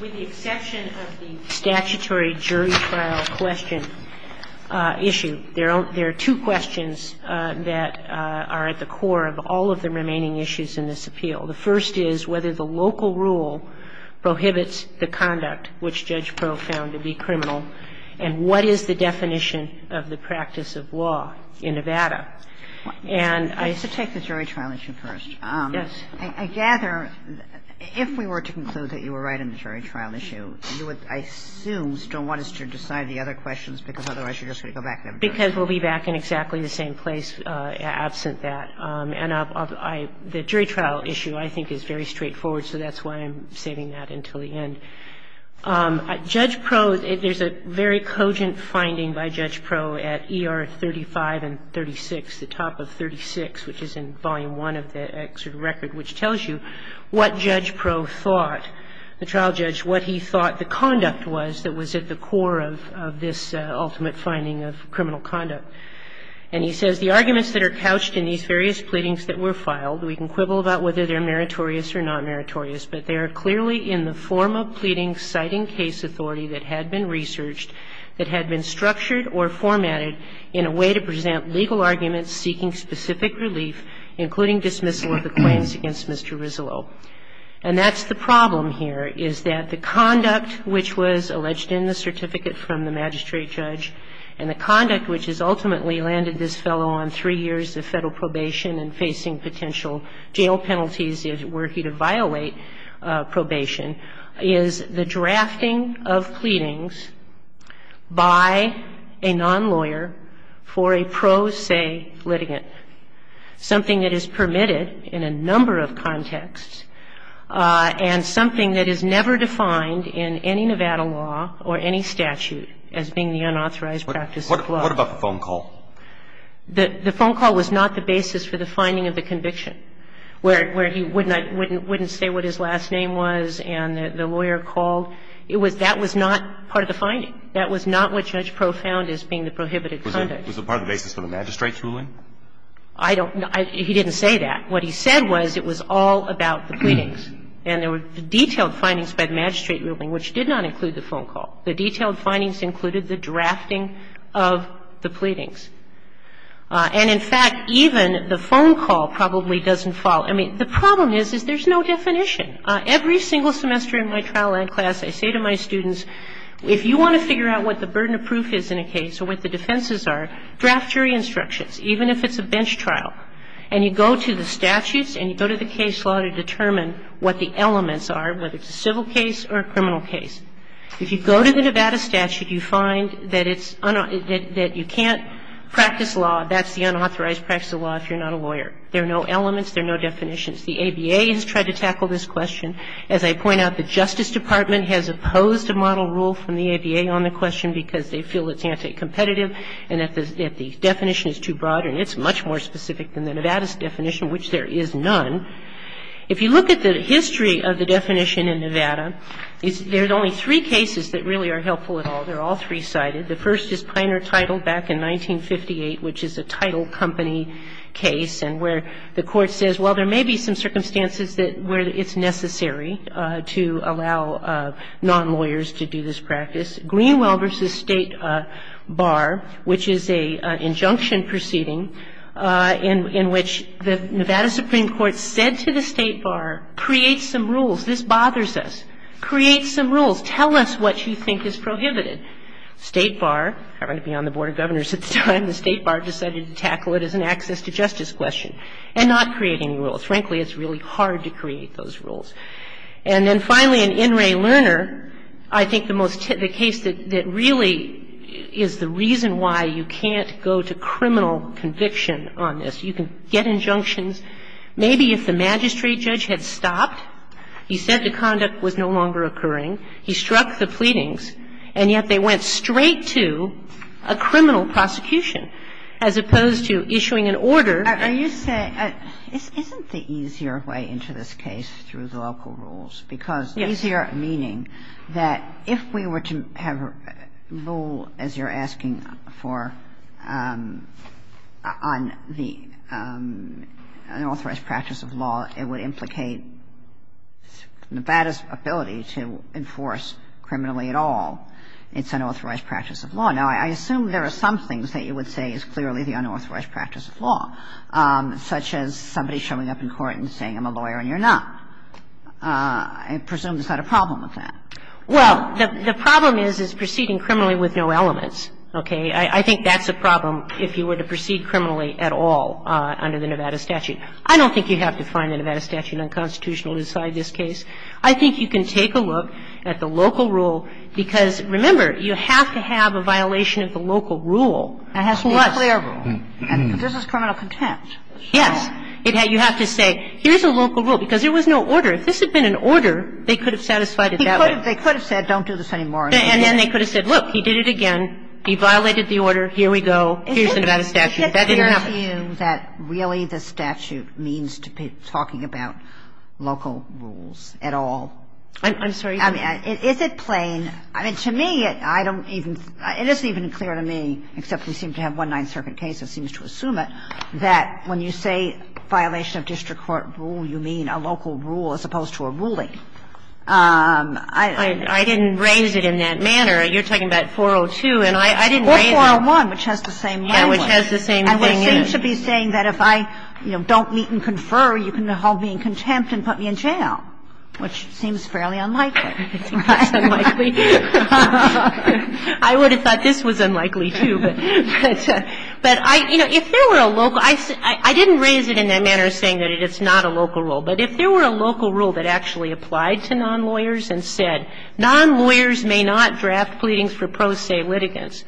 With the exception of the statutory jury trial question issue, there are two questions that are at the core of all of the remaining issues in this appeal. The first is whether the local rule prohibits the conduct which Judge Proh found to be criminal, and what is the definition of the practice of law in Nevada. And I used to take the jury trial issue first. I gather if we were to conclude that you were right on the jury trial issue, you would, I assume, still want us to decide the other questions, because otherwise you're just going to go back and have a jury trial. Kagan Because we'll be back in exactly the same place absent that. And the jury trial issue, I think, is very straightforward, so that's why I'm saving that until the end. Judge Proh, there's a very cogent finding by Judge Proh at ER 35 and 36. The top of 36, which is in Volume I of the excerpt record, which tells you what Judge Proh thought, the trial judge, what he thought the conduct was that was at the core of this ultimate finding of criminal conduct. And he says, The arguments that are couched in these various pleadings that were filed, we can quibble about whether they're meritorious or not meritorious, but they are clearly in the form of pleading citing case authority that had been researched, that had been structured or formatted in a way to present legal arguments seeking specific relief, including dismissal of the claims against Mr. Rizzolo. And that's the problem here, is that the conduct which was alleged in the certificate from the magistrate judge, and the conduct which has ultimately landed this fellow on three years of Federal probation and facing potential jail penalties were he to violate And so what we have here in this particular case, which is a case that is not a case that is subject to Federal probation, is the drafting of pleadings by a non-lawyer for a pro se litigant, something that is permitted in a number of contexts, and something that is never defined in any Nevada law or any statute as being the unauthorized practice of the law. What about the phone call? The phone call was not the basis for the finding of the conviction, where he wouldn't say what his last name was and the lawyer called. That was not part of the finding. That was not what Judge Pro found as being the prohibited conduct. Was it part of the basis for the magistrate's ruling? I don't know. He didn't say that. What he said was it was all about the pleadings. And there were detailed findings by the magistrate ruling, which did not include the phone call. The detailed findings included the drafting of the pleadings. And, in fact, even the phone call probably doesn't follow. I mean, the problem is, is there's no definition. Every single semester in my trial and class, I say to my students, if you want to figure out what the burden of proof is in a case or what the defenses are, draft your instructions, even if it's a bench trial. And you go to the statutes and you go to the case law to determine what the elements are, whether it's a civil case or a criminal case. If you go to the Nevada statute, you find that it's unauthorized, that you can't practice law, that's the unauthorized practice of law if you're not a lawyer. There are no elements. There are no definitions. The ABA has tried to tackle this question. As I point out, the Justice Department has opposed a model rule from the ABA on the question because they feel it's anti-competitive and that the definition is too broad and it's much more specific than the Nevada's definition, which there is none. If you look at the history of the definition in Nevada, there's only three cases that really are helpful at all. They're all three-sided. The first is Piner Title back in 1958, which is a title company case, and where the Court says, well, there may be some circumstances where it's necessary to allow non-lawyers to do this practice. Greenwell v. State Bar, which is an injunction proceeding in which the Nevada Supreme Court said to the State Bar, create some rules. This bothers us. Create some rules. Tell us what you think is prohibited. State Bar, having to be on the Board of Governors at the time, the State Bar decided to tackle it as an access to justice question, and not create any rules. Frankly, it's really hard to create those rules. And then finally, in In re Lerner, I think the most typical case that really is the reason why you can't go to criminal conviction on this. You can get injunctions. Maybe if the magistrate judge had stopped, he said the conduct was no longer occurring, he struck the pleadings, and yet they went straight to a criminal prosecution as opposed to issuing an order. And you say, isn't the easier way into this case through the local rules? Because easier meaning that if we were to have a rule, as you're asking for, on the basis of an unauthorized practice of law, it would implicate Nevada's ability to enforce criminally at all. It's an unauthorized practice of law. Now, I assume there are some things that you would say is clearly the unauthorized practice of law, such as somebody showing up in court and saying I'm a lawyer and you're not. I presume there's not a problem with that. Well, the problem is, is proceeding criminally with no elements. Okay? I think that's a problem if you were to proceed criminally at all under the Nevada statute. I don't think you have to find the Nevada statute unconstitutional to decide this case. I think you can take a look at the local rule because, remember, you have to have a violation of the local rule. It has to be a clear rule. And this is criminal contempt. Yes. You have to say, here's a local rule, because there was no order. If this had been an order, they could have satisfied it that way. They could have said don't do this anymore. And then they could have said, look, he did it again. He violated the order. Here we go. Here's the Nevada statute. That didn't happen. Is it clear to you that really the statute means talking about local rules at all? I'm sorry? I mean, is it plain? I mean, to me, I don't even – it isn't even clear to me, except we seem to have one Ninth Circuit case that seems to assume it, that when you say violation of district court rule, you mean a local rule as opposed to a ruling. I don't think that's what it is. I don't know. I just don't think it's appropriate. I don't know. I just don't know. I mean, I didn't raise it in that manner. You're talking about 402, and I didn't raise it. Or 401, which has the same language. It has the same thing. And we seem to be saying that if I don't meet and confer, you can hold me in contempt and put me in jail, which seems fairly unlikely. I think that's unlikely. I would have thought this was unlikely, too. But, you know, if there were a local – I didn't raise it in that manner saying that it's not a local rule. But if there were a local rule that actually applied to non-lawyers and said, non-lawyers may not draft pleadings for pro se litigants,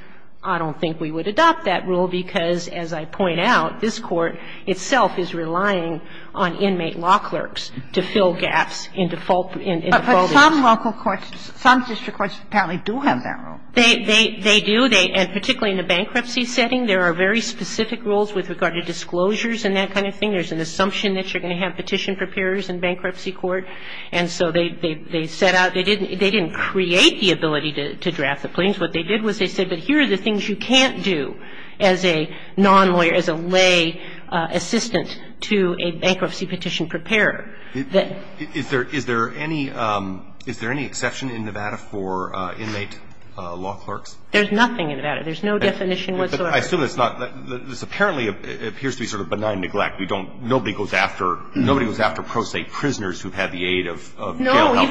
I don't think we would adopt that rule because, as I point out, this Court itself is relying on inmate law clerks to fill gaps in defaulting. But some local courts, some district courts apparently do have that rule. They do. And particularly in the bankruptcy setting, there are very specific rules with regard to disclosures and that kind of thing. There's an assumption that you're going to have petition preparers in bankruptcy court. And so they set out – they didn't create the ability to draft the pleadings. What they did was they said, but here are the things you can't do as a non-lawyer, as a lay assistant to a bankruptcy petition preparer. The question is, is there any – is there any exception in Nevada for inmate law clerks? There's nothing in Nevada. There's no definition whatsoever. I assume it's not – this apparently appears to be sort of benign neglect. We don't – nobody goes after – nobody goes after pro se prisoners who've had the aid of jail-held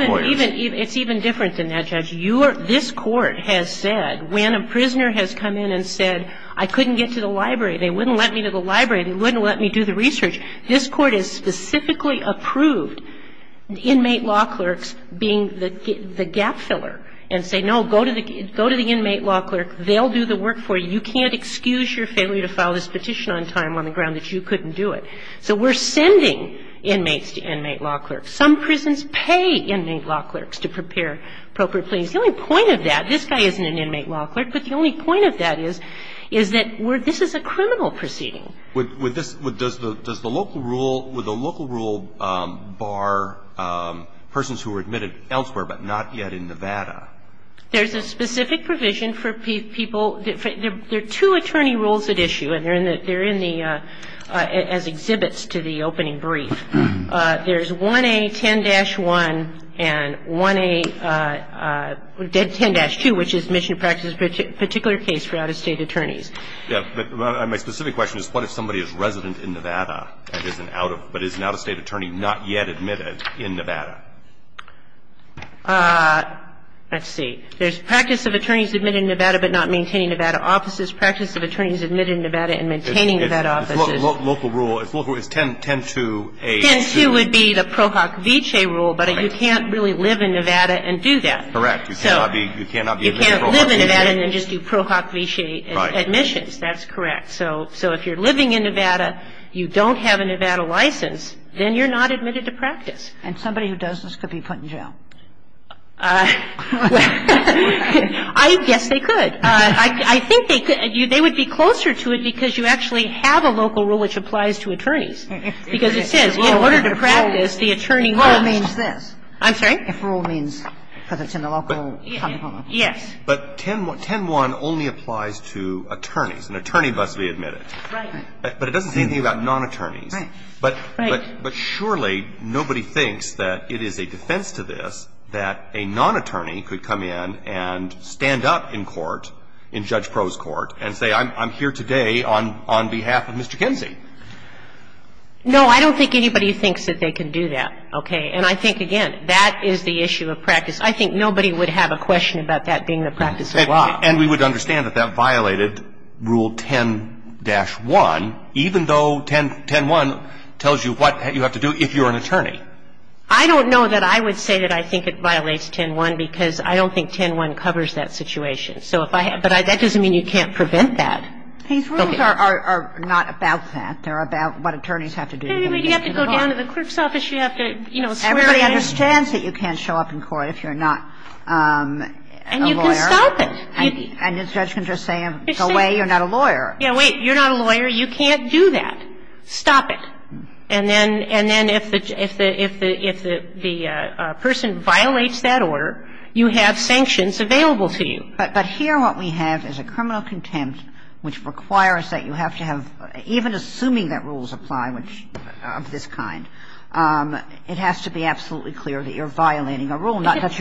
lawyers. No. It's even different than that, Judge. You are – this Court has said when a prisoner has come in and said, I couldn't get to the library, they wouldn't let me to the library, they wouldn't let me do the research. This Court has specifically approved inmate law clerks being the gap filler and say, no, go to the – go to the inmate law clerk. They'll do the work for you. You can't excuse your failure to file this petition on time on the ground that you couldn't do it. So we're sending inmates to inmate law clerks. Some prisons pay inmate law clerks to prepare appropriate pleadings. The only point of that – this guy isn't an inmate law clerk, but the only point of that is, is that we're – this is a criminal proceeding. I'm just wondering what's the definition of a mission practice for out-of-state I'm sorry, I'm confused. Does the local rule bar persons who are admitted elsewhere, but not yet in Nevada? There's a specific provision for people – there are two attorney rules at issue, and they're in the – as exhibits to the opening brief. There's 1A10-1 and 1A – 10-2, which is mission practice in a particular case for out-of-state attorneys. Yeah, but my specific question is what if somebody is resident in Nevada, but is an out-of-state attorney not yet admitted in Nevada? Let's see. There's practice of attorneys admitted in Nevada, but not maintaining Nevada offices. Practice of attorneys admitted in Nevada and maintaining Nevada offices. It's local rule. It's local. It's 10-2-A-2. 10-2 would be the Pro Hoc Vice rule, but you can't really live in Nevada and do that. Correct. So you can't live in Nevada and then just do Pro Hoc Vice admissions. That's correct. So if you're living in Nevada, you don't have a Nevada license, then you're not admitted to practice. And somebody who does this could be put in jail. I guess they could. I think they could. They would be closer to it because you actually have a local rule which applies to attorneys. Because it says in order to practice, the attorney rule means this. I'm sorry? If rule means because it's in the local common law. Yes. But 10-1 only applies to attorneys. An attorney must be admitted. Right. But it doesn't say anything about non-attorneys. Right. But surely nobody thinks that it is a defense to this that a non-attorney could come in and stand up in court, in Judge Pro's court, and say I'm here today on behalf of Mr. Kinsey. No, I don't think anybody thinks that they can do that. Okay. And I think, again, that is the issue of practice. I think nobody would have a question about that being the practice of law. And we would understand that that violated Rule 10-1, even though 10-1 tells you what you have to do if you're an attorney. I don't know that I would say that I think it violates 10-1 because I don't think 10-1 covers that situation. So if I have to do that, that doesn't mean you can't prevent that. These rules are not about that. They're about what attorneys have to do. You have to go down to the clerk's office. You have to, you know, swear in. Everybody understands that you can't show up in court if you're not a lawyer. And you can stop it. And the judge can just say, go away, you're not a lawyer. Yeah, wait, you're not a lawyer. You can't do that. Stop it. And then if the person violates that order, you have sanctions available to you. But here what we have is a criminal contempt which requires that you have to have a direct violation of an order. And I think that even assuming that rules apply of this kind, it has to be absolutely clear that you're violating a rule, not that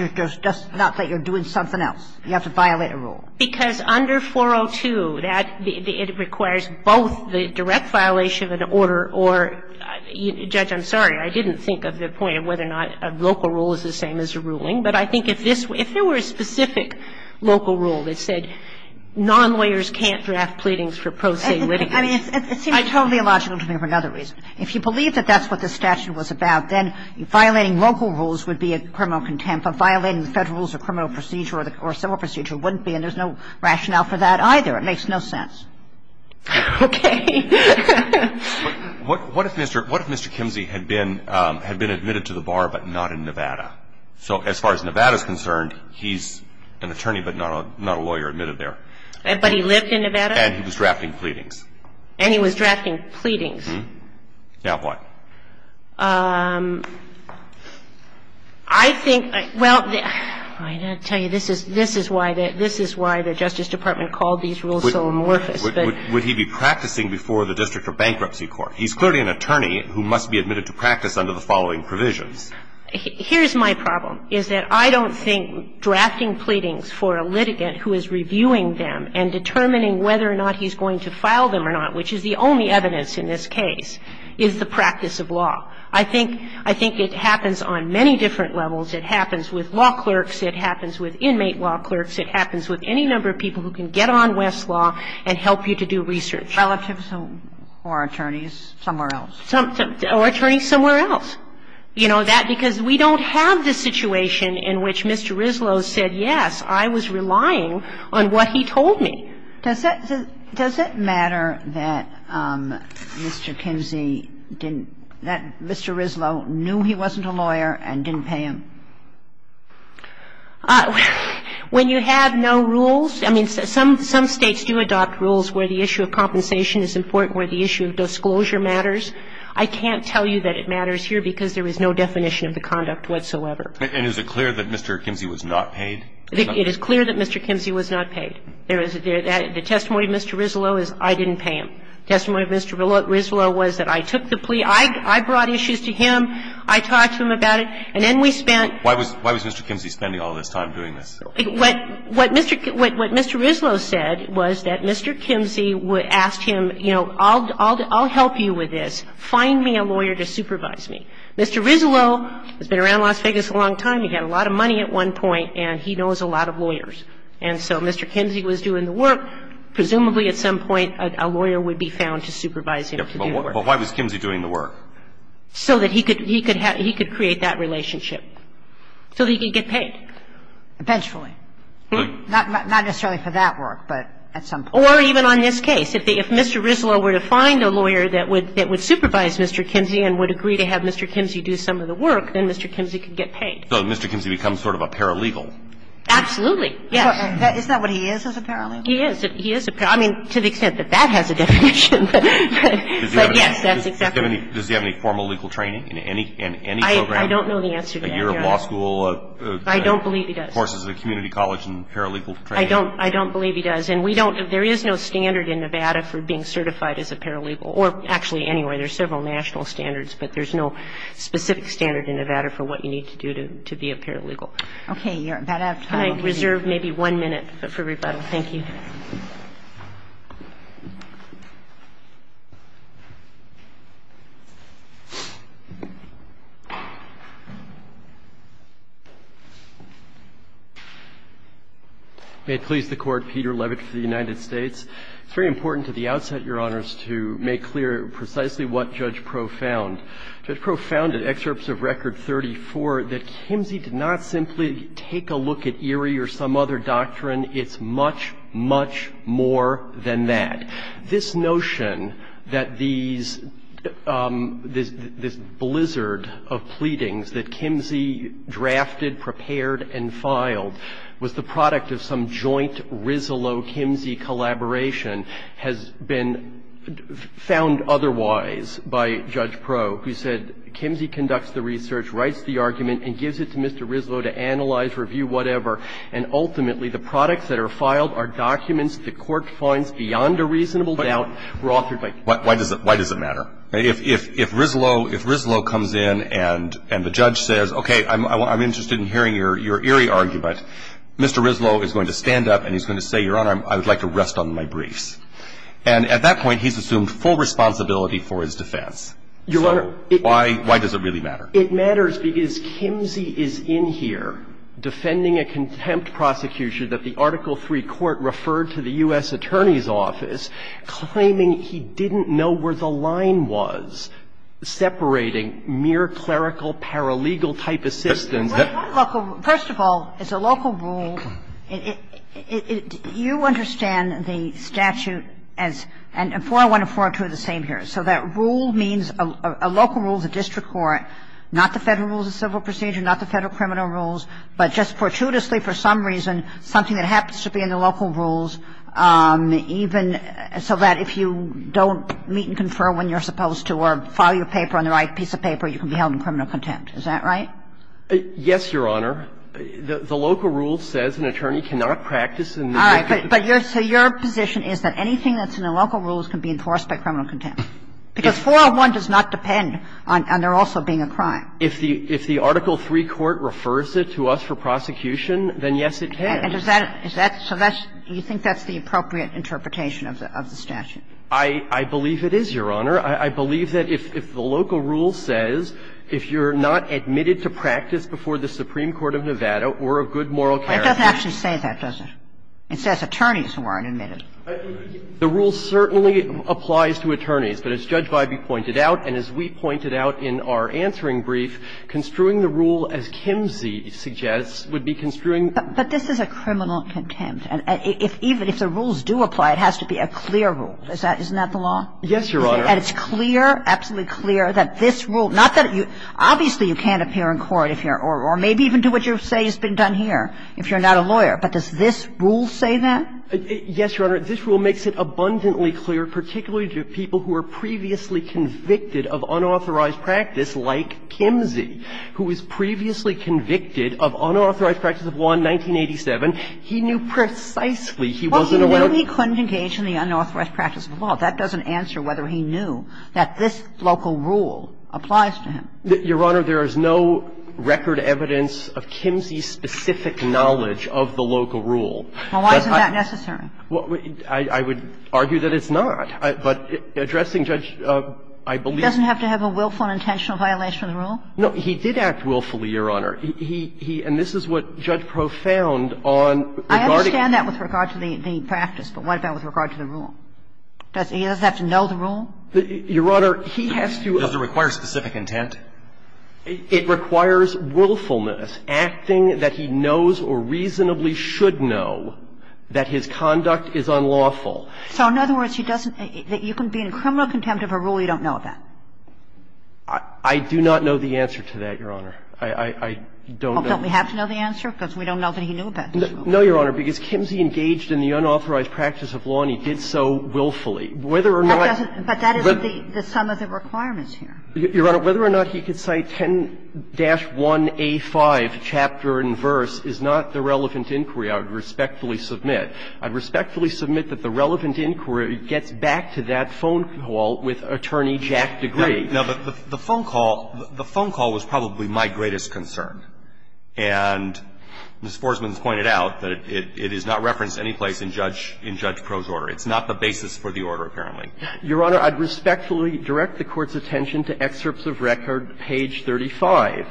you're doing something else. You have to violate a rule. Because under 402, it requires both the direct violation of an order or, Judge, I'm sorry. I didn't think of the point of whether or not a local rule is the same as a ruling. But I think if there were a specific local rule that said non-lawyers can't draft pleadings for pro se witnesses. I mean, it seems totally illogical to me for another reason. If you believe that that's what the statute was about, then violating local rules would be a criminal contempt. But violating the Federal Rules of Criminal Procedure or Civil Procedure wouldn't be. And there's no rationale for that either. It makes no sense. Okay. What if Mr. Kimsey had been admitted to the bar but not in Nevada? So as far as Nevada is concerned, he's an attorney but not a lawyer admitted there. But he lived in Nevada? And he was drafting pleadings. And he was drafting pleadings. Now what? I think, well, I've got to tell you, this is why the Justice Department called these rules so amorphous. Would he be practicing before the district or bankruptcy court? He's clearly an attorney who must be admitted to practice under the following provisions. Here's my problem, is that I don't think drafting pleadings for a litigant who is reviewing them and determining whether or not he's going to file them or not, which is the only evidence in this case, is the practice of law. I think it happens on many different levels. It happens with law clerks. It happens with inmate law clerks. It happens with any number of people who can get on Westlaw and help you to do research. Relatives or attorneys somewhere else. Or attorneys somewhere else. You know, that because we don't have the situation in which Mr. Rislow said, yes, I was relying on what he told me. Does that matter that Mr. Kinsey didn't, that Mr. Rislow knew he wasn't a lawyer and didn't pay him? When you have no rules, I mean, some states do adopt rules where the issue of compensation is important, where the issue of disclosure matters. I can't tell you that it matters here because there is no definition of the conduct whatsoever. And is it clear that Mr. Kinsey was not paid? It is clear that Mr. Kinsey was not paid. The testimony of Mr. Rislow is, I didn't pay him. The testimony of Mr. Rislow was that I took the plea, I brought issues to him, I talked to him about it, and then we spent. Why was Mr. Kinsey spending all this time doing this? What Mr. Rislow said was that Mr. Kinsey asked him, you know, I'll help you with this, find me a lawyer to supervise me. Mr. Rislow has been around Las Vegas a long time. He had a lot of money at one point, and he knows a lot of lawyers. And so Mr. Kinsey was doing the work. Presumably at some point a lawyer would be found to supervise him to do the work. But why was Kinsey doing the work? So that he could, he could have, he could create that relationship. So that he could get paid. Eventually. Not necessarily for that work, but at some point. Or even on this case, if they, if Mr. Rislow were to find a lawyer that would, that would supervise Mr. Kinsey and would agree to have Mr. Kinsey do some of the work, then Mr. Kinsey could get paid. So Mr. Kinsey becomes sort of a paralegal? Absolutely. Yes. Is that what he is, as a paralegal? He is. He is. I mean, to the extent that that has a definition. But yes, that's exactly. Does he have any formal legal training in any, in any program? I don't know the answer to that, Your Honor. A year of law school? I don't believe he does. Of course, there's a community college and paralegal training. I don't, I don't believe he does. And we don't, there is no standard in Nevada for being certified as a paralegal. Or actually, anyway, there's several national standards. But there's no specific standard in Nevada for what you need to do to be a paralegal. Okay, you're about out of time. Can I reserve maybe one minute for rebuttal? Thank you. May it please the Court. Peter Levitt for the United States. It's very important to the outset, Your Honors, to make clear precisely what Judge Pro found. Judge Pro found in excerpts of Record 34 that Kimsey did not simply take a look at Erie or some other doctrine. It's much, much more than that. This notion that these, this blizzard of pleadings that Kimsey drafted, prepared and filed was the product of some joint Rislow-Kimsey collaboration has been found otherwise by Judge Pro, who said, Kimsey conducts the research, writes the argument and gives it to Mr. Rislow to analyze, review, whatever. And ultimately, the products that are filed are documents the Court finds beyond a reasonable doubt were authored by Kimsey. Why does it matter? If Rislow, if Rislow comes in and the judge says, okay, I'm interested in hearing your Erie argument, Mr. Rislow is going to stand up and he's going to say, Your Honor, I would like to rest on my briefs. And at that point, he's assumed full responsibility for his defense. So why does it really matter? It matters because Kimsey is in here defending a contempt prosecution that the Article III Court referred to the U.S. Attorney's Office, claiming he didn't know where the First of all, it's a local rule. Do you understand the statute as, and 401 and 402 are the same here, so that rule means a local rule of the district court, not the Federal Rules of Civil Procedure, not the Federal criminal rules, but just fortuitously, for some reason, something that happens to be in the local rules, even so that if you don't meet and confer when you're supposed to or file your paper on the right piece of paper, you can be held in criminal contempt, is that right? Yes, Your Honor. The local rule says an attorney cannot practice in the district court. All right. But your position is that anything that's in the local rules can be enforced by criminal contempt? Because 401 does not depend on there also being a crime. If the Article III Court refers it to us for prosecution, then yes, it can. So you think that's the appropriate interpretation of the statute? I believe it is, Your Honor. I believe that if the local rule says if you're not admitted to practice before the Supreme Court of Nevada or a good moral character. It doesn't actually say that, does it? It says attorneys who aren't admitted. The rule certainly applies to attorneys. But as Judge Biby pointed out and as we pointed out in our answering brief, construing the rule as Kimsey suggests would be construing. But this is a criminal contempt. And if even if the rules do apply, it has to be a clear rule. Isn't that the law? Yes, Your Honor. And it's clear, absolutely clear, that this rule, not that you – obviously you can't appear in court if you're – or maybe even do what you say has been done here if you're not a lawyer. But does this rule say that? Yes, Your Honor. This rule makes it abundantly clear, particularly to people who were previously convicted of unauthorized practice like Kimsey, who was previously convicted of unauthorized practice of law in 1987. He knew precisely he wasn't allowed to – Well, he knew he couldn't engage in the unauthorized practice of law. That doesn't answer whether he knew that this local rule applies to him. Your Honor, there is no record evidence of Kimsey's specific knowledge of the local rule. Well, why isn't that necessary? Well, I would argue that it's not. But addressing Judge, I believe – He doesn't have to have a willful and intentional violation of the rule? No. He did act willfully, Your Honor. He – and this is what Judge Proff found on regarding – I understand that with regard to the practice, but what about with regard to the rule? He doesn't have to know the rule? Your Honor, he has to – Does it require specific intent? It requires willfulness, acting that he knows or reasonably should know that his conduct is unlawful. So in other words, he doesn't – you can be in criminal contempt of a rule you don't know about? I do not know the answer to that, Your Honor. I don't know – Don't we have to know the answer? Because we don't know that he knew about this rule. No, Your Honor. Because Kimsey engaged in the unauthorized practice of law, and he did so willfully. Whether or not – But that isn't the sum of the requirements here. Your Honor, whether or not he could cite 10-1A5, chapter and verse, is not the relevant inquiry I would respectfully submit. I would respectfully submit that the relevant inquiry gets back to that phone call with Attorney Jack Degree. No, but the phone call – the phone call was probably my greatest concern. And Ms. Forsman has pointed out that it is not referenced any place in Judge – in Judge Proh's order. It's not the basis for the order, apparently. Your Honor, I'd respectfully direct the Court's attention to excerpts of record, page 35,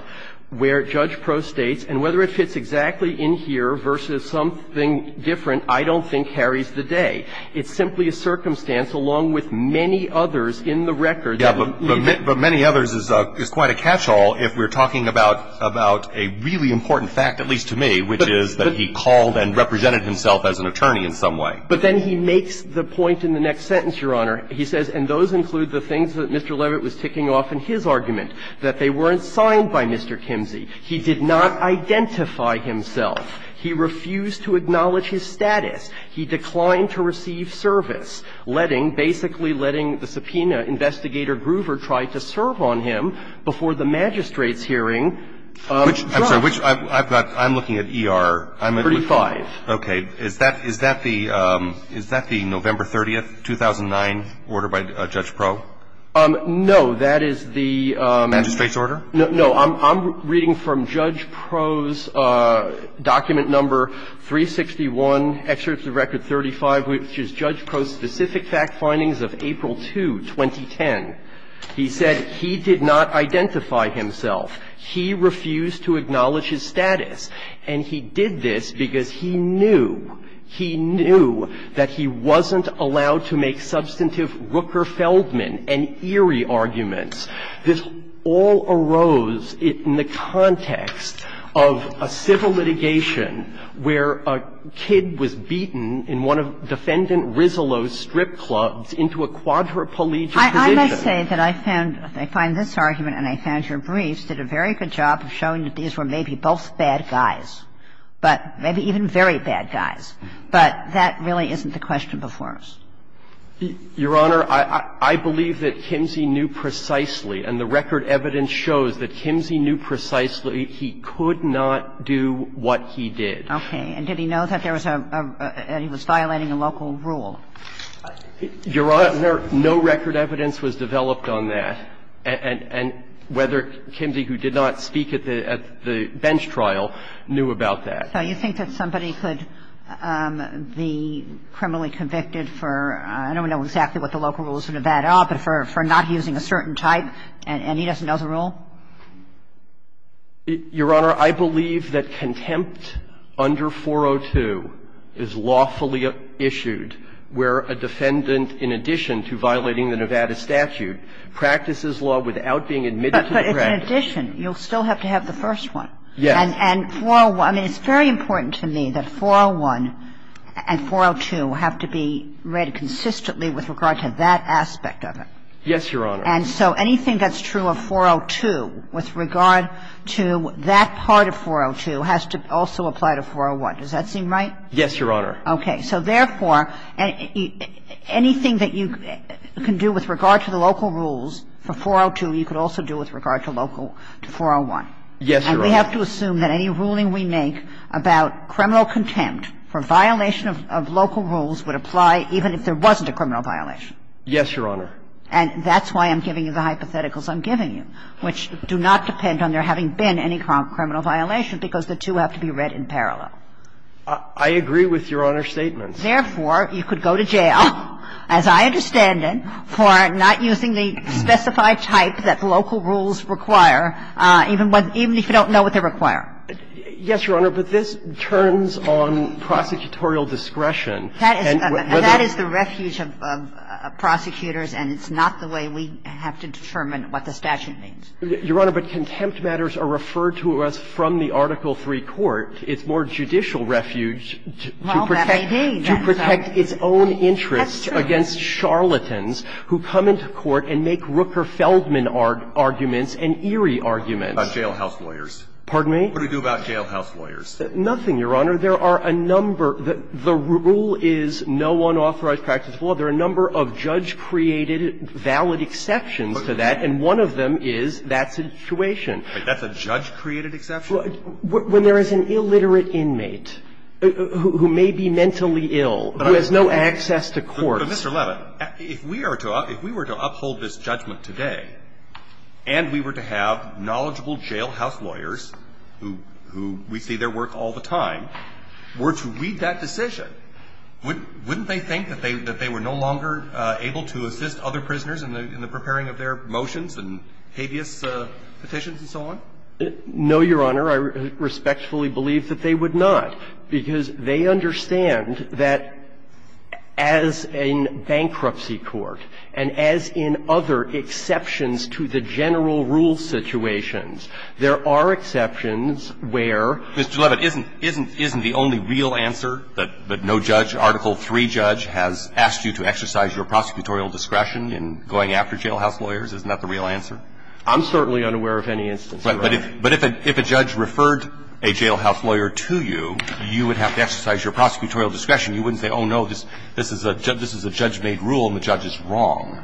where Judge Proh states, and whether it fits exactly in here versus something different, I don't think carries the day. It's simply a circumstance, along with many others in the records. But many others is quite a catch-all if we're talking about a really important fact, at least to me, which is that he called and represented himself as an attorney in some way. But then he makes the point in the next sentence, Your Honor. He says, and those include the things that Mr. Levitt was ticking off in his argument, that they weren't signed by Mr. Kimsey. He did not identify himself. He refused to acknowledge his status. He declined to receive service, letting – basically letting the subpoena investigator Groover try to serve on him before the magistrate's hearing. I'm sorry, which – I've got – I'm looking at ER. I'm looking at – 35. Okay. Is that – is that the – is that the November 30th, 2009 order by Judge Proh? No. That is the – Magistrate's order? No. I'm reading from Judge Proh's document number 361, excerpts of record 35, which is Judge Proh's specific fact findings of April 2, 2010. He said he did not identify himself. He refused to acknowledge his status. And he did this because he knew – he knew that he wasn't allowed to make substantive Rooker-Feldman and Erie arguments. This all arose in the context of a civil litigation where a kid was beaten in one of Defendant Rizzolo's strip clubs into a quadriplegic position. I must say that I found – I find this argument and I found your briefs did a very good job of showing that these were maybe both bad guys, but – maybe even very bad guys, but that really isn't the question before us. Your Honor, I believe that Kimsey knew precisely, and the record evidence shows that Kimsey knew precisely he could not do what he did. Okay. And did he know that there was a – that he was violating a local rule? Your Honor, no record evidence was developed on that, and whether Kimsey, who did not speak at the – at the bench trial, knew about that. So you think that somebody could be criminally convicted for – I don't know exactly what the local rules for Nevada are, but for not using a certain type and he doesn't know the rule? Your Honor, I believe that contempt under 402 is lawfully issued where a defendant, in addition to violating the Nevada statute, practices law without being admitted to the practice. But in addition, you'll still have to have the first one. Yes. And 401 – I mean, it's very important to me that 401 and 402 have to be read consistently with regard to that aspect of it. Yes, Your Honor. And so anything that's true of 402 with regard to that part of 402 has to also apply to 401. Does that seem right? Yes, Your Honor. Okay. So therefore, anything that you can do with regard to the local rules for 402, you could also do with regard to local – to 401. Yes, Your Honor. But we have to assume that any ruling we make about criminal contempt for violation of local rules would apply even if there wasn't a criminal violation. Yes, Your Honor. And that's why I'm giving you the hypotheticals I'm giving you, which do not depend on there having been any criminal violation, because the two have to be read in parallel. I agree with Your Honor's statements. Therefore, you could go to jail, as I understand it, for not using the specified type that local rules require, even if you don't know what they require. Yes, Your Honor. But this turns on prosecutorial discretion. That is the refuge of prosecutors, and it's not the way we have to determine what the statute means. Your Honor, but contempt matters are referred to us from the Article III court. It's more judicial refuge to protect its own interests against charlatans who come into court and make Rooker-Feldman arguments and Erie arguments. About jailhouse lawyers. Pardon me? What do we do about jailhouse lawyers? Nothing, Your Honor. There are a number. The rule is no unauthorized practice of law. There are a number of judge-created valid exceptions to that, and one of them is that situation. Wait. That's a judge-created exception? When there is an illiterate inmate who may be mentally ill, who has no access to court. But, Mr. Levin, if we were to uphold this judgment today, and we were to have knowledgeable jailhouse lawyers who we see their work all the time, were to read that decision, wouldn't they think that they were no longer able to assist other prisoners in the preparing of their motions and habeas petitions and so on? No, Your Honor. I respectfully believe that they would not, because they understand that, as in bankruptcy court and as in other exceptions to the general rule situations, there are exceptions where ---- Mr. Levin, isn't the only real answer that no judge, Article III judge, has asked you to exercise your prosecutorial discretion in going after jailhouse lawyers is not the real answer? I'm certainly unaware of any instance, Your Honor. But if a judge referred a jailhouse lawyer to you, you would have to exercise your prosecutorial discretion. You wouldn't say, oh, no, this is a judge-made rule and the judge is wrong.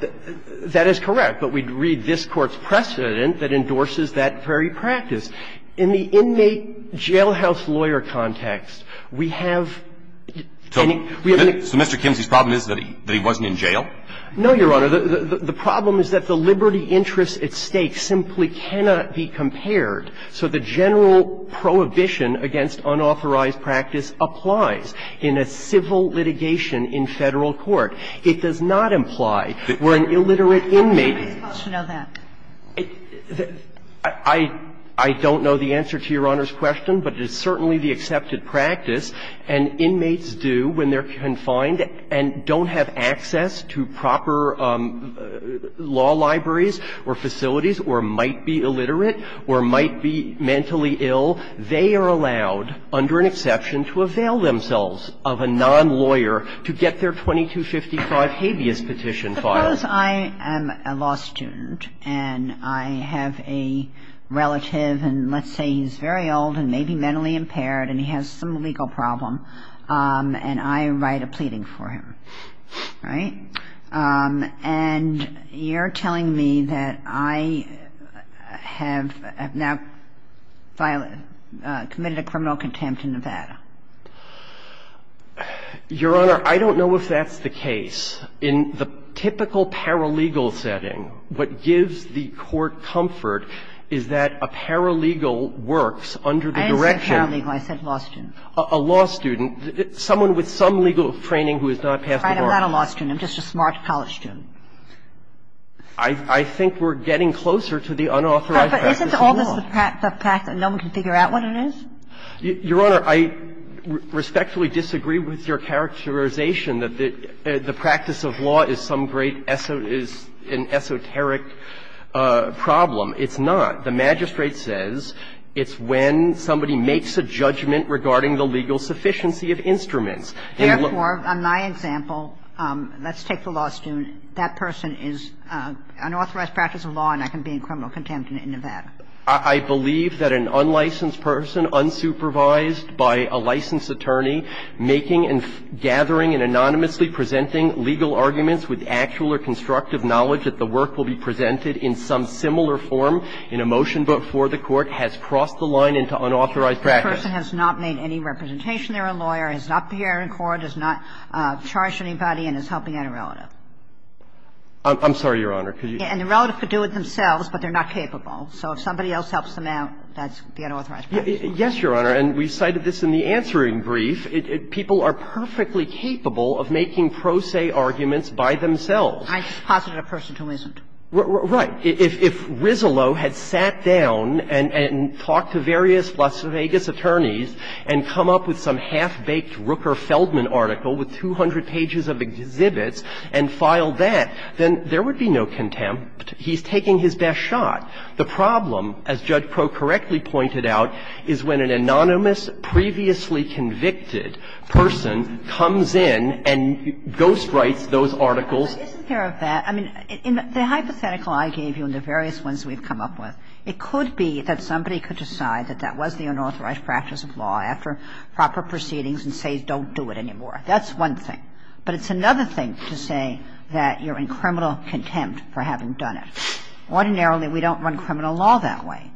That is correct. But we'd read this Court's precedent that endorses that very practice. In the inmate jailhouse lawyer context, we have ---- So Mr. Kimsey's problem is that he wasn't in jail? No, Your Honor. The problem is that the liberty interest at stake simply cannot be compared. So the general prohibition against unauthorized practice applies in a civil litigation in Federal court. It does not imply where an illiterate inmate ---- I don't know the answer to Your Honor's question, but it is certainly the accepted practice, and inmates do, when they're confined and don't have access to proper law libraries or facilities or might be illiterate or might be mentally ill, they are allowed under an exception to avail themselves of a nonlawyer to get their 2255 habeas petition filed. But suppose I am a law student and I have a relative, and let's say he's very old and maybe mentally impaired and he has some legal problem, and I write a pleading for him, right? And you're telling me that I have now committed a criminal contempt in Nevada. Your Honor, I don't know if that's the case. In the typical paralegal setting, what gives the Court comfort is that a paralegal works under the direction of a law student, someone with some legal training who has not passed the bar. I'm not a law student, I'm just a smart college student. I think we're getting closer to the unauthorized practice of law. But isn't all this the practice that no one can figure out what it is? Your Honor, I respectfully disagree with your characterization that the practice of law is some great esoteric problem. It's not. The magistrate says it's when somebody makes a judgment regarding the legal sufficiency of instruments. They look at the law. Therefore, on my example, let's take the law student. That person is unauthorized practice of law and I can be in criminal contempt in Nevada. I believe that an unlicensed person, unsupervised by a licensed attorney, making and gathering and anonymously presenting legal arguments with actual or constructive knowledge that the work will be presented in some similar form in a motion before the Court has crossed the line into unauthorized practice. That person has not made any representation. They're a lawyer, has not been here in court, has not charged anybody and is helping out a relative. I'm sorry, Your Honor. And the relative could do it themselves, but they're not capable. So if somebody else helps them out, that's the unauthorized practice. Yes, Your Honor. And we cited this in the answering brief. People are perfectly capable of making pro se arguments by themselves. I just posited a person who isn't. Right. If Rizzolo had sat down and talked to various Las Vegas attorneys and come up with some half-baked Rooker-Feldman article with 200 pages of exhibits and filed that, then there would be no contempt. He's taking his best shot. The problem, as Judge Crowe correctly pointed out, is when an anonymous, previously convicted person comes in and ghostwrites those articles. But isn't there a fact? I mean, the hypothetical I gave you and the various ones we've come up with, it could be that somebody could decide that that was the unauthorized practice of law after proper proceedings and say, don't do it anymore. That's one thing. But it's another thing to say that you're in criminal contempt for having done it. Ordinarily, we don't run criminal law that way,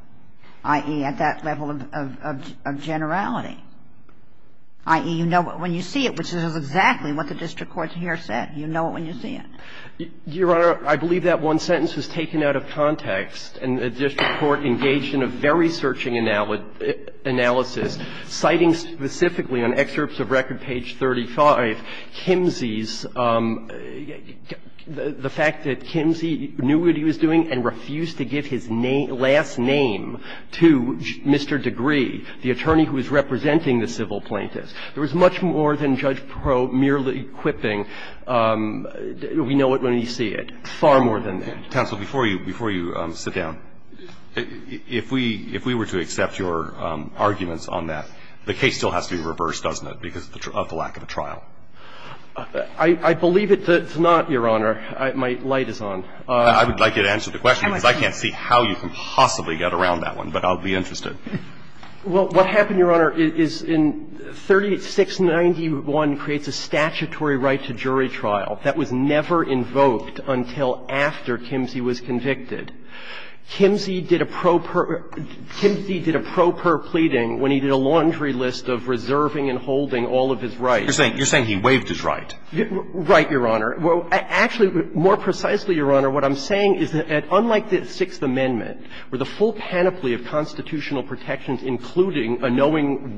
i.e., at that level of generality, i.e., you know when you see it, which is exactly what the district courts here said. You know it when you see it. Your Honor, I believe that one sentence was taken out of context, and the district court engaged in a very searching analysis, citing specifically on excerpts of Record page 35, Kimsey's the fact that Kimsey knew what he was doing and refused to give his last name to Mr. Degree, the attorney who was representing the civil plaintiffs. There was much more than Judge Proulx merely quipping, we know it when we see it. Far more than that. Counsel, before you sit down, if we were to accept your arguments on that, the case still has to be reversed, doesn't it, because of the lack of a trial? I believe it's not, Your Honor. My light is on. I would like you to answer the question, because I can't see how you can possibly get around that one. But I'll be interested. Well, what happened, Your Honor, is in 3691 creates a statutory right to jury trial that was never invoked until after Kimsey was convicted. Kimsey did a pro per pleading when he did a laundry list of reserving and holding all of his rights. You're saying he waived his right. Right, Your Honor. Well, actually, more precisely, Your Honor, what I'm saying is that unlike the Sixth Amendment, which allows for the right to jury trial, which allows for the right to hold all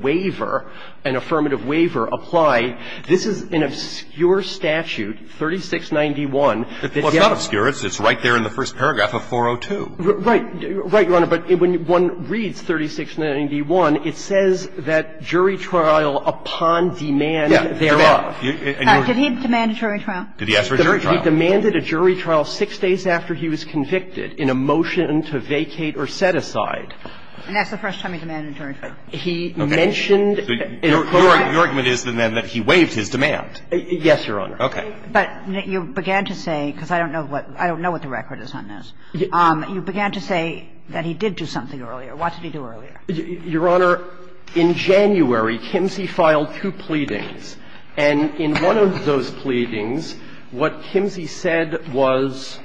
the rights, to hold all the protections, including a knowing waiver, an affirmative waiver applied, this is an obscure statute, 3691. Well, it's not obscure. It's right there in the first paragraph of 402. Right. Right, Your Honor. But when one reads 3691, it says that jury trial upon demand thereof. Yes. Demand. Did he demand a jury trial? Did he ask for a jury trial? He demanded a jury trial six days after he was convicted in a motion to vacate or set aside. And that's the first time he demanded a jury trial. He mentioned in a courtroom. Your argument is, then, that he waived his demand. Yes, Your Honor. Okay. But you began to say, because I don't know what the record is on this, you began to say that he did do something earlier. What did he do earlier? Your Honor, in January, Kimsey filed two pleadings. And in one of those pleadings, what Kimsey said was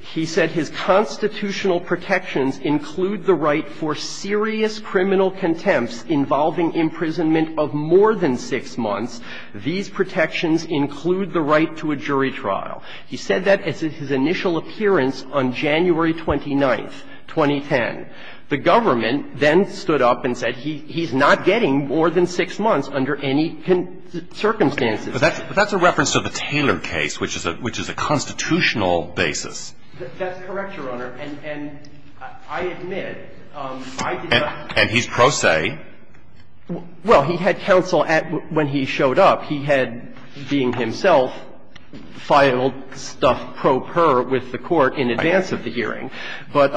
he said his constitutional protections include the right for serious criminal contempts involving imprisonment of more than six months. These protections include the right to a jury trial. He said that at his initial appearance on January 29th, 2010. The government then stood up and said he's not getting more than six months under any circumstances. But that's a reference to the Taylor case, which is a constitutional basis. That's correct, Your Honor. And I admit, I did not. And he's pro se. Well, he had counsel at when he showed up. He had, being himself, filed stuff pro per with the Court in advance of the hearing. But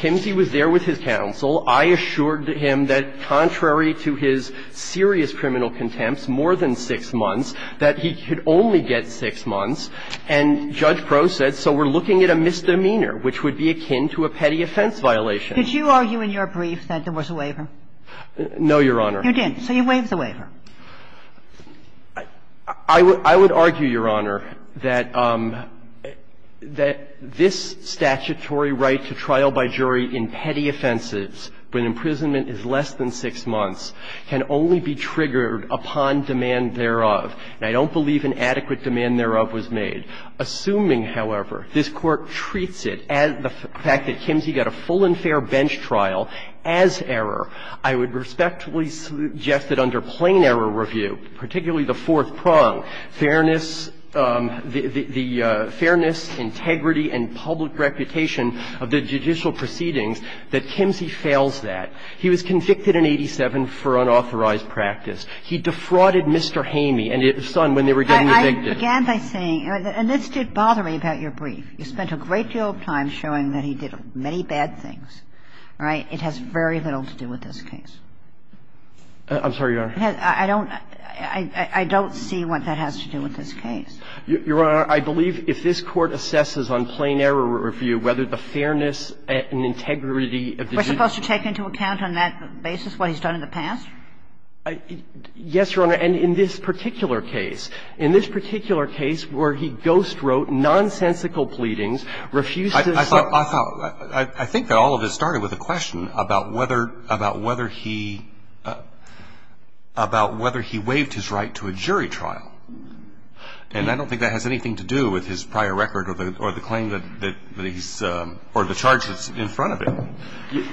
Kimsey was there with his counsel. I assured him that contrary to his serious criminal contempts, more than six months, that he could only get six months. And Judge Crowe said, so we're looking at a misdemeanor, which would be akin to a petty offense violation. Could you argue in your brief that there was a waiver? No, Your Honor. You didn't. So you waived the waiver. I would argue, Your Honor, that this statutory right to trial by jury in petty offenses when imprisonment is less than six months can only be triggered upon demand thereof. And I don't believe an adequate demand thereof was made. Assuming, however, this Court treats it, the fact that Kimsey got a full and fair bench trial as error, I would respectfully suggest that under plain error review, particularly the fourth prong, fairness, the fairness, integrity and public reputation of the judicial proceedings, that Kimsey fails that. He was convicted in 87 for unauthorized practice. He defrauded Mr. Hamey and his son when they were getting evicted. I began by saying, and this did bother me about your brief. You spent a great deal of time showing that he did many bad things. All right? It has very little to do with this case. I'm sorry, Your Honor. I don't see what that has to do with this case. Your Honor, I believe if this Court assesses on plain error review whether the fairness and integrity of the judicial proceedings. We're supposed to take into account on that basis what he's done in the past? Yes, Your Honor. And in this particular case. In this particular case where he ghostwrote nonsensical pleadings, refused to say that he was guilty, I think that all of this started with a question about whether he waived his right to a jury trial. And I don't think that has anything to do with his prior record or the claim that he's or the charge that's in front of him.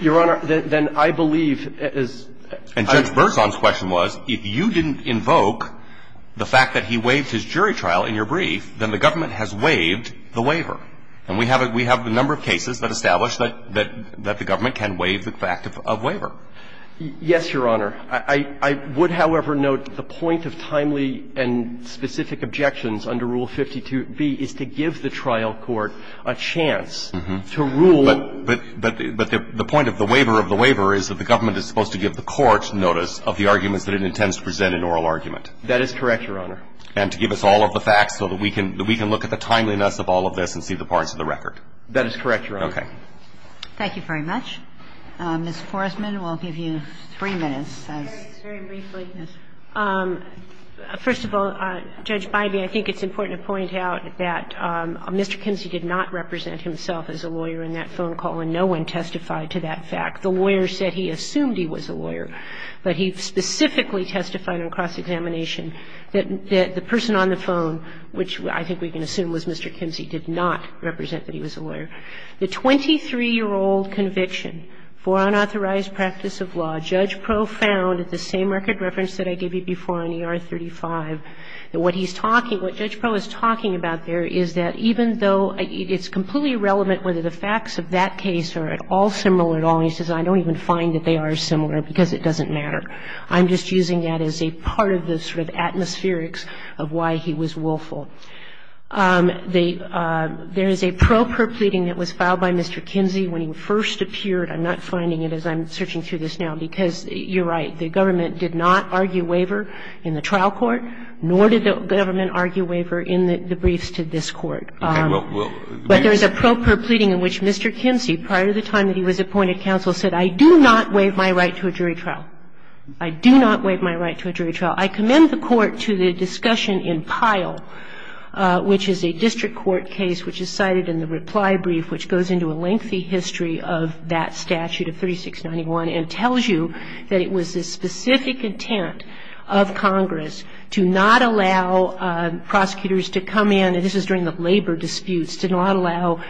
Your Honor, then I believe as. And Judge Berzon's question was, if you didn't invoke the fact that he waived his jury trial, then you can't say that he waived his waiver. And we have a number of cases that establish that the government can waive the fact of waiver. Yes, Your Honor. I would, however, note the point of timely and specific objections under Rule 52b is to give the trial court a chance to rule. But the point of the waiver of the waiver is that the government is supposed to give the court notice of the arguments that it intends to present in oral argument. That is correct, Your Honor. And to give us all of the facts so that we can look at the timeliness of all of this and see the parts of the record. That is correct, Your Honor. Okay. Thank you very much. Ms. Forstman, we'll give you three minutes. Very briefly, first of all, Judge Biby, I think it's important to point out that Mr. Kinsey did not represent himself as a lawyer in that phone call, and no one testified to that fact. The lawyer said he assumed he was a lawyer, but he specifically testified on cross-examination that the person on the phone, which I think we can assume was Mr. Kinsey, did not represent that he was a lawyer. The 23-year-old conviction for unauthorized practice of law, Judge Pro found at the same record reference that I gave you before on ER 35, that what he's talking – what Judge Pro is talking about there is that even though it's completely irrelevant whether the facts of that case are at all similar at all, and he says, I don't even find that they are similar because it doesn't matter, I'm just using that as a part of the sort of atmospherics of why he was willful. There is a pro per pleading that was filed by Mr. Kinsey when he first appeared. I'm not finding it as I'm searching through this now, because you're right, the government did not argue waiver in the trial court, nor did the government argue waiver in the briefs to this Court. But there is a pro per pleading in which Mr. Kinsey, prior to the time that he was appointed counsel, said, I do not waive my right to a jury trial. I do not waive my right to a jury trial. I commend the Court to the discussion in Pyle, which is a district court case, which is cited in the reply brief, which goes into a lengthy history of that statute of 3691, and tells you that it was the specific intent of Congress to not allow prosecutors to come in – and this is during the labor disputes – to not allow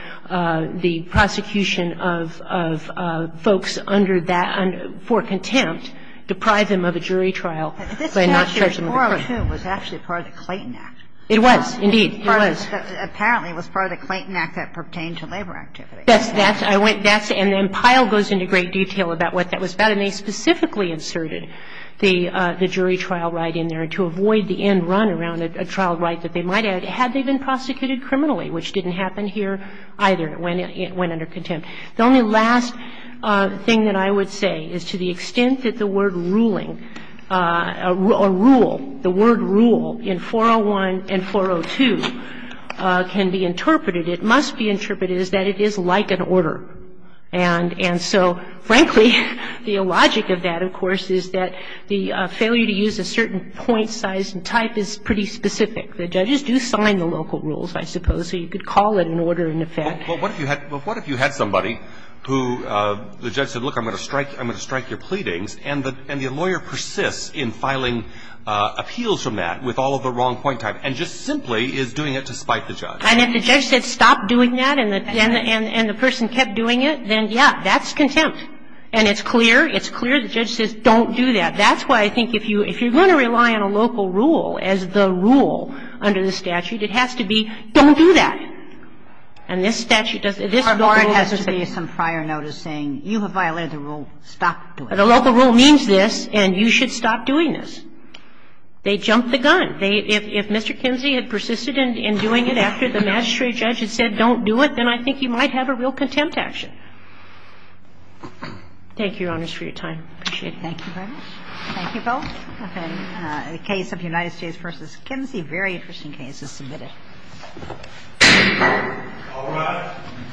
the prosecution of folks under that, for contempt, deprive them of a jury trial by not charging them with a crime. This statute 402 was actually part of the Clayton Act. It was, indeed. It was. Apparently it was part of the Clayton Act that pertained to labor activity. That's – I went – that's – and then Pyle goes into great detail about what that was about. And they specifically inserted the jury trial right in there to avoid the end run around a trial right that they might have had they been prosecuted criminally, which didn't happen here either. It went under contempt. The only last thing that I would say is to the extent that the word ruling – or rule, the word rule in 401 and 402 can be interpreted, it must be interpreted as that it is like an order. And so, frankly, the logic of that, of course, is that the failure to use a certain point, size, and type is pretty specific. The judges do sign the local rules, I suppose, so you could call it an order in effect. But what if you had – but what if you had somebody who the judge said, look, I'm going to strike – I'm going to strike your pleadings, and the lawyer persists in filing appeals from that with all of the wrong point type and just simply is doing it to spite the judge? And if the judge said stop doing that and the person kept doing it, then, yeah, that's contempt. And it's clear – it's clear the judge says don't do that. That's why I think if you're going to rely on a local rule as the rule under the statute, it has to be don't do that. And this statute doesn't – this local rule doesn't say – Or it has to be some prior notice saying you have violated the rule, stop doing it. The local rule means this, and you should stop doing this. They jumped the gun. If Mr. Kinsey had persisted in doing it after the magistrate judge had said don't do it, then I think you might have a real contempt action. Thank you, Your Honors, for your time. I appreciate it. Thank you very much. Thank you, both. Okay. The case of United States v. Kinsey, very interesting case, is submitted. All rise.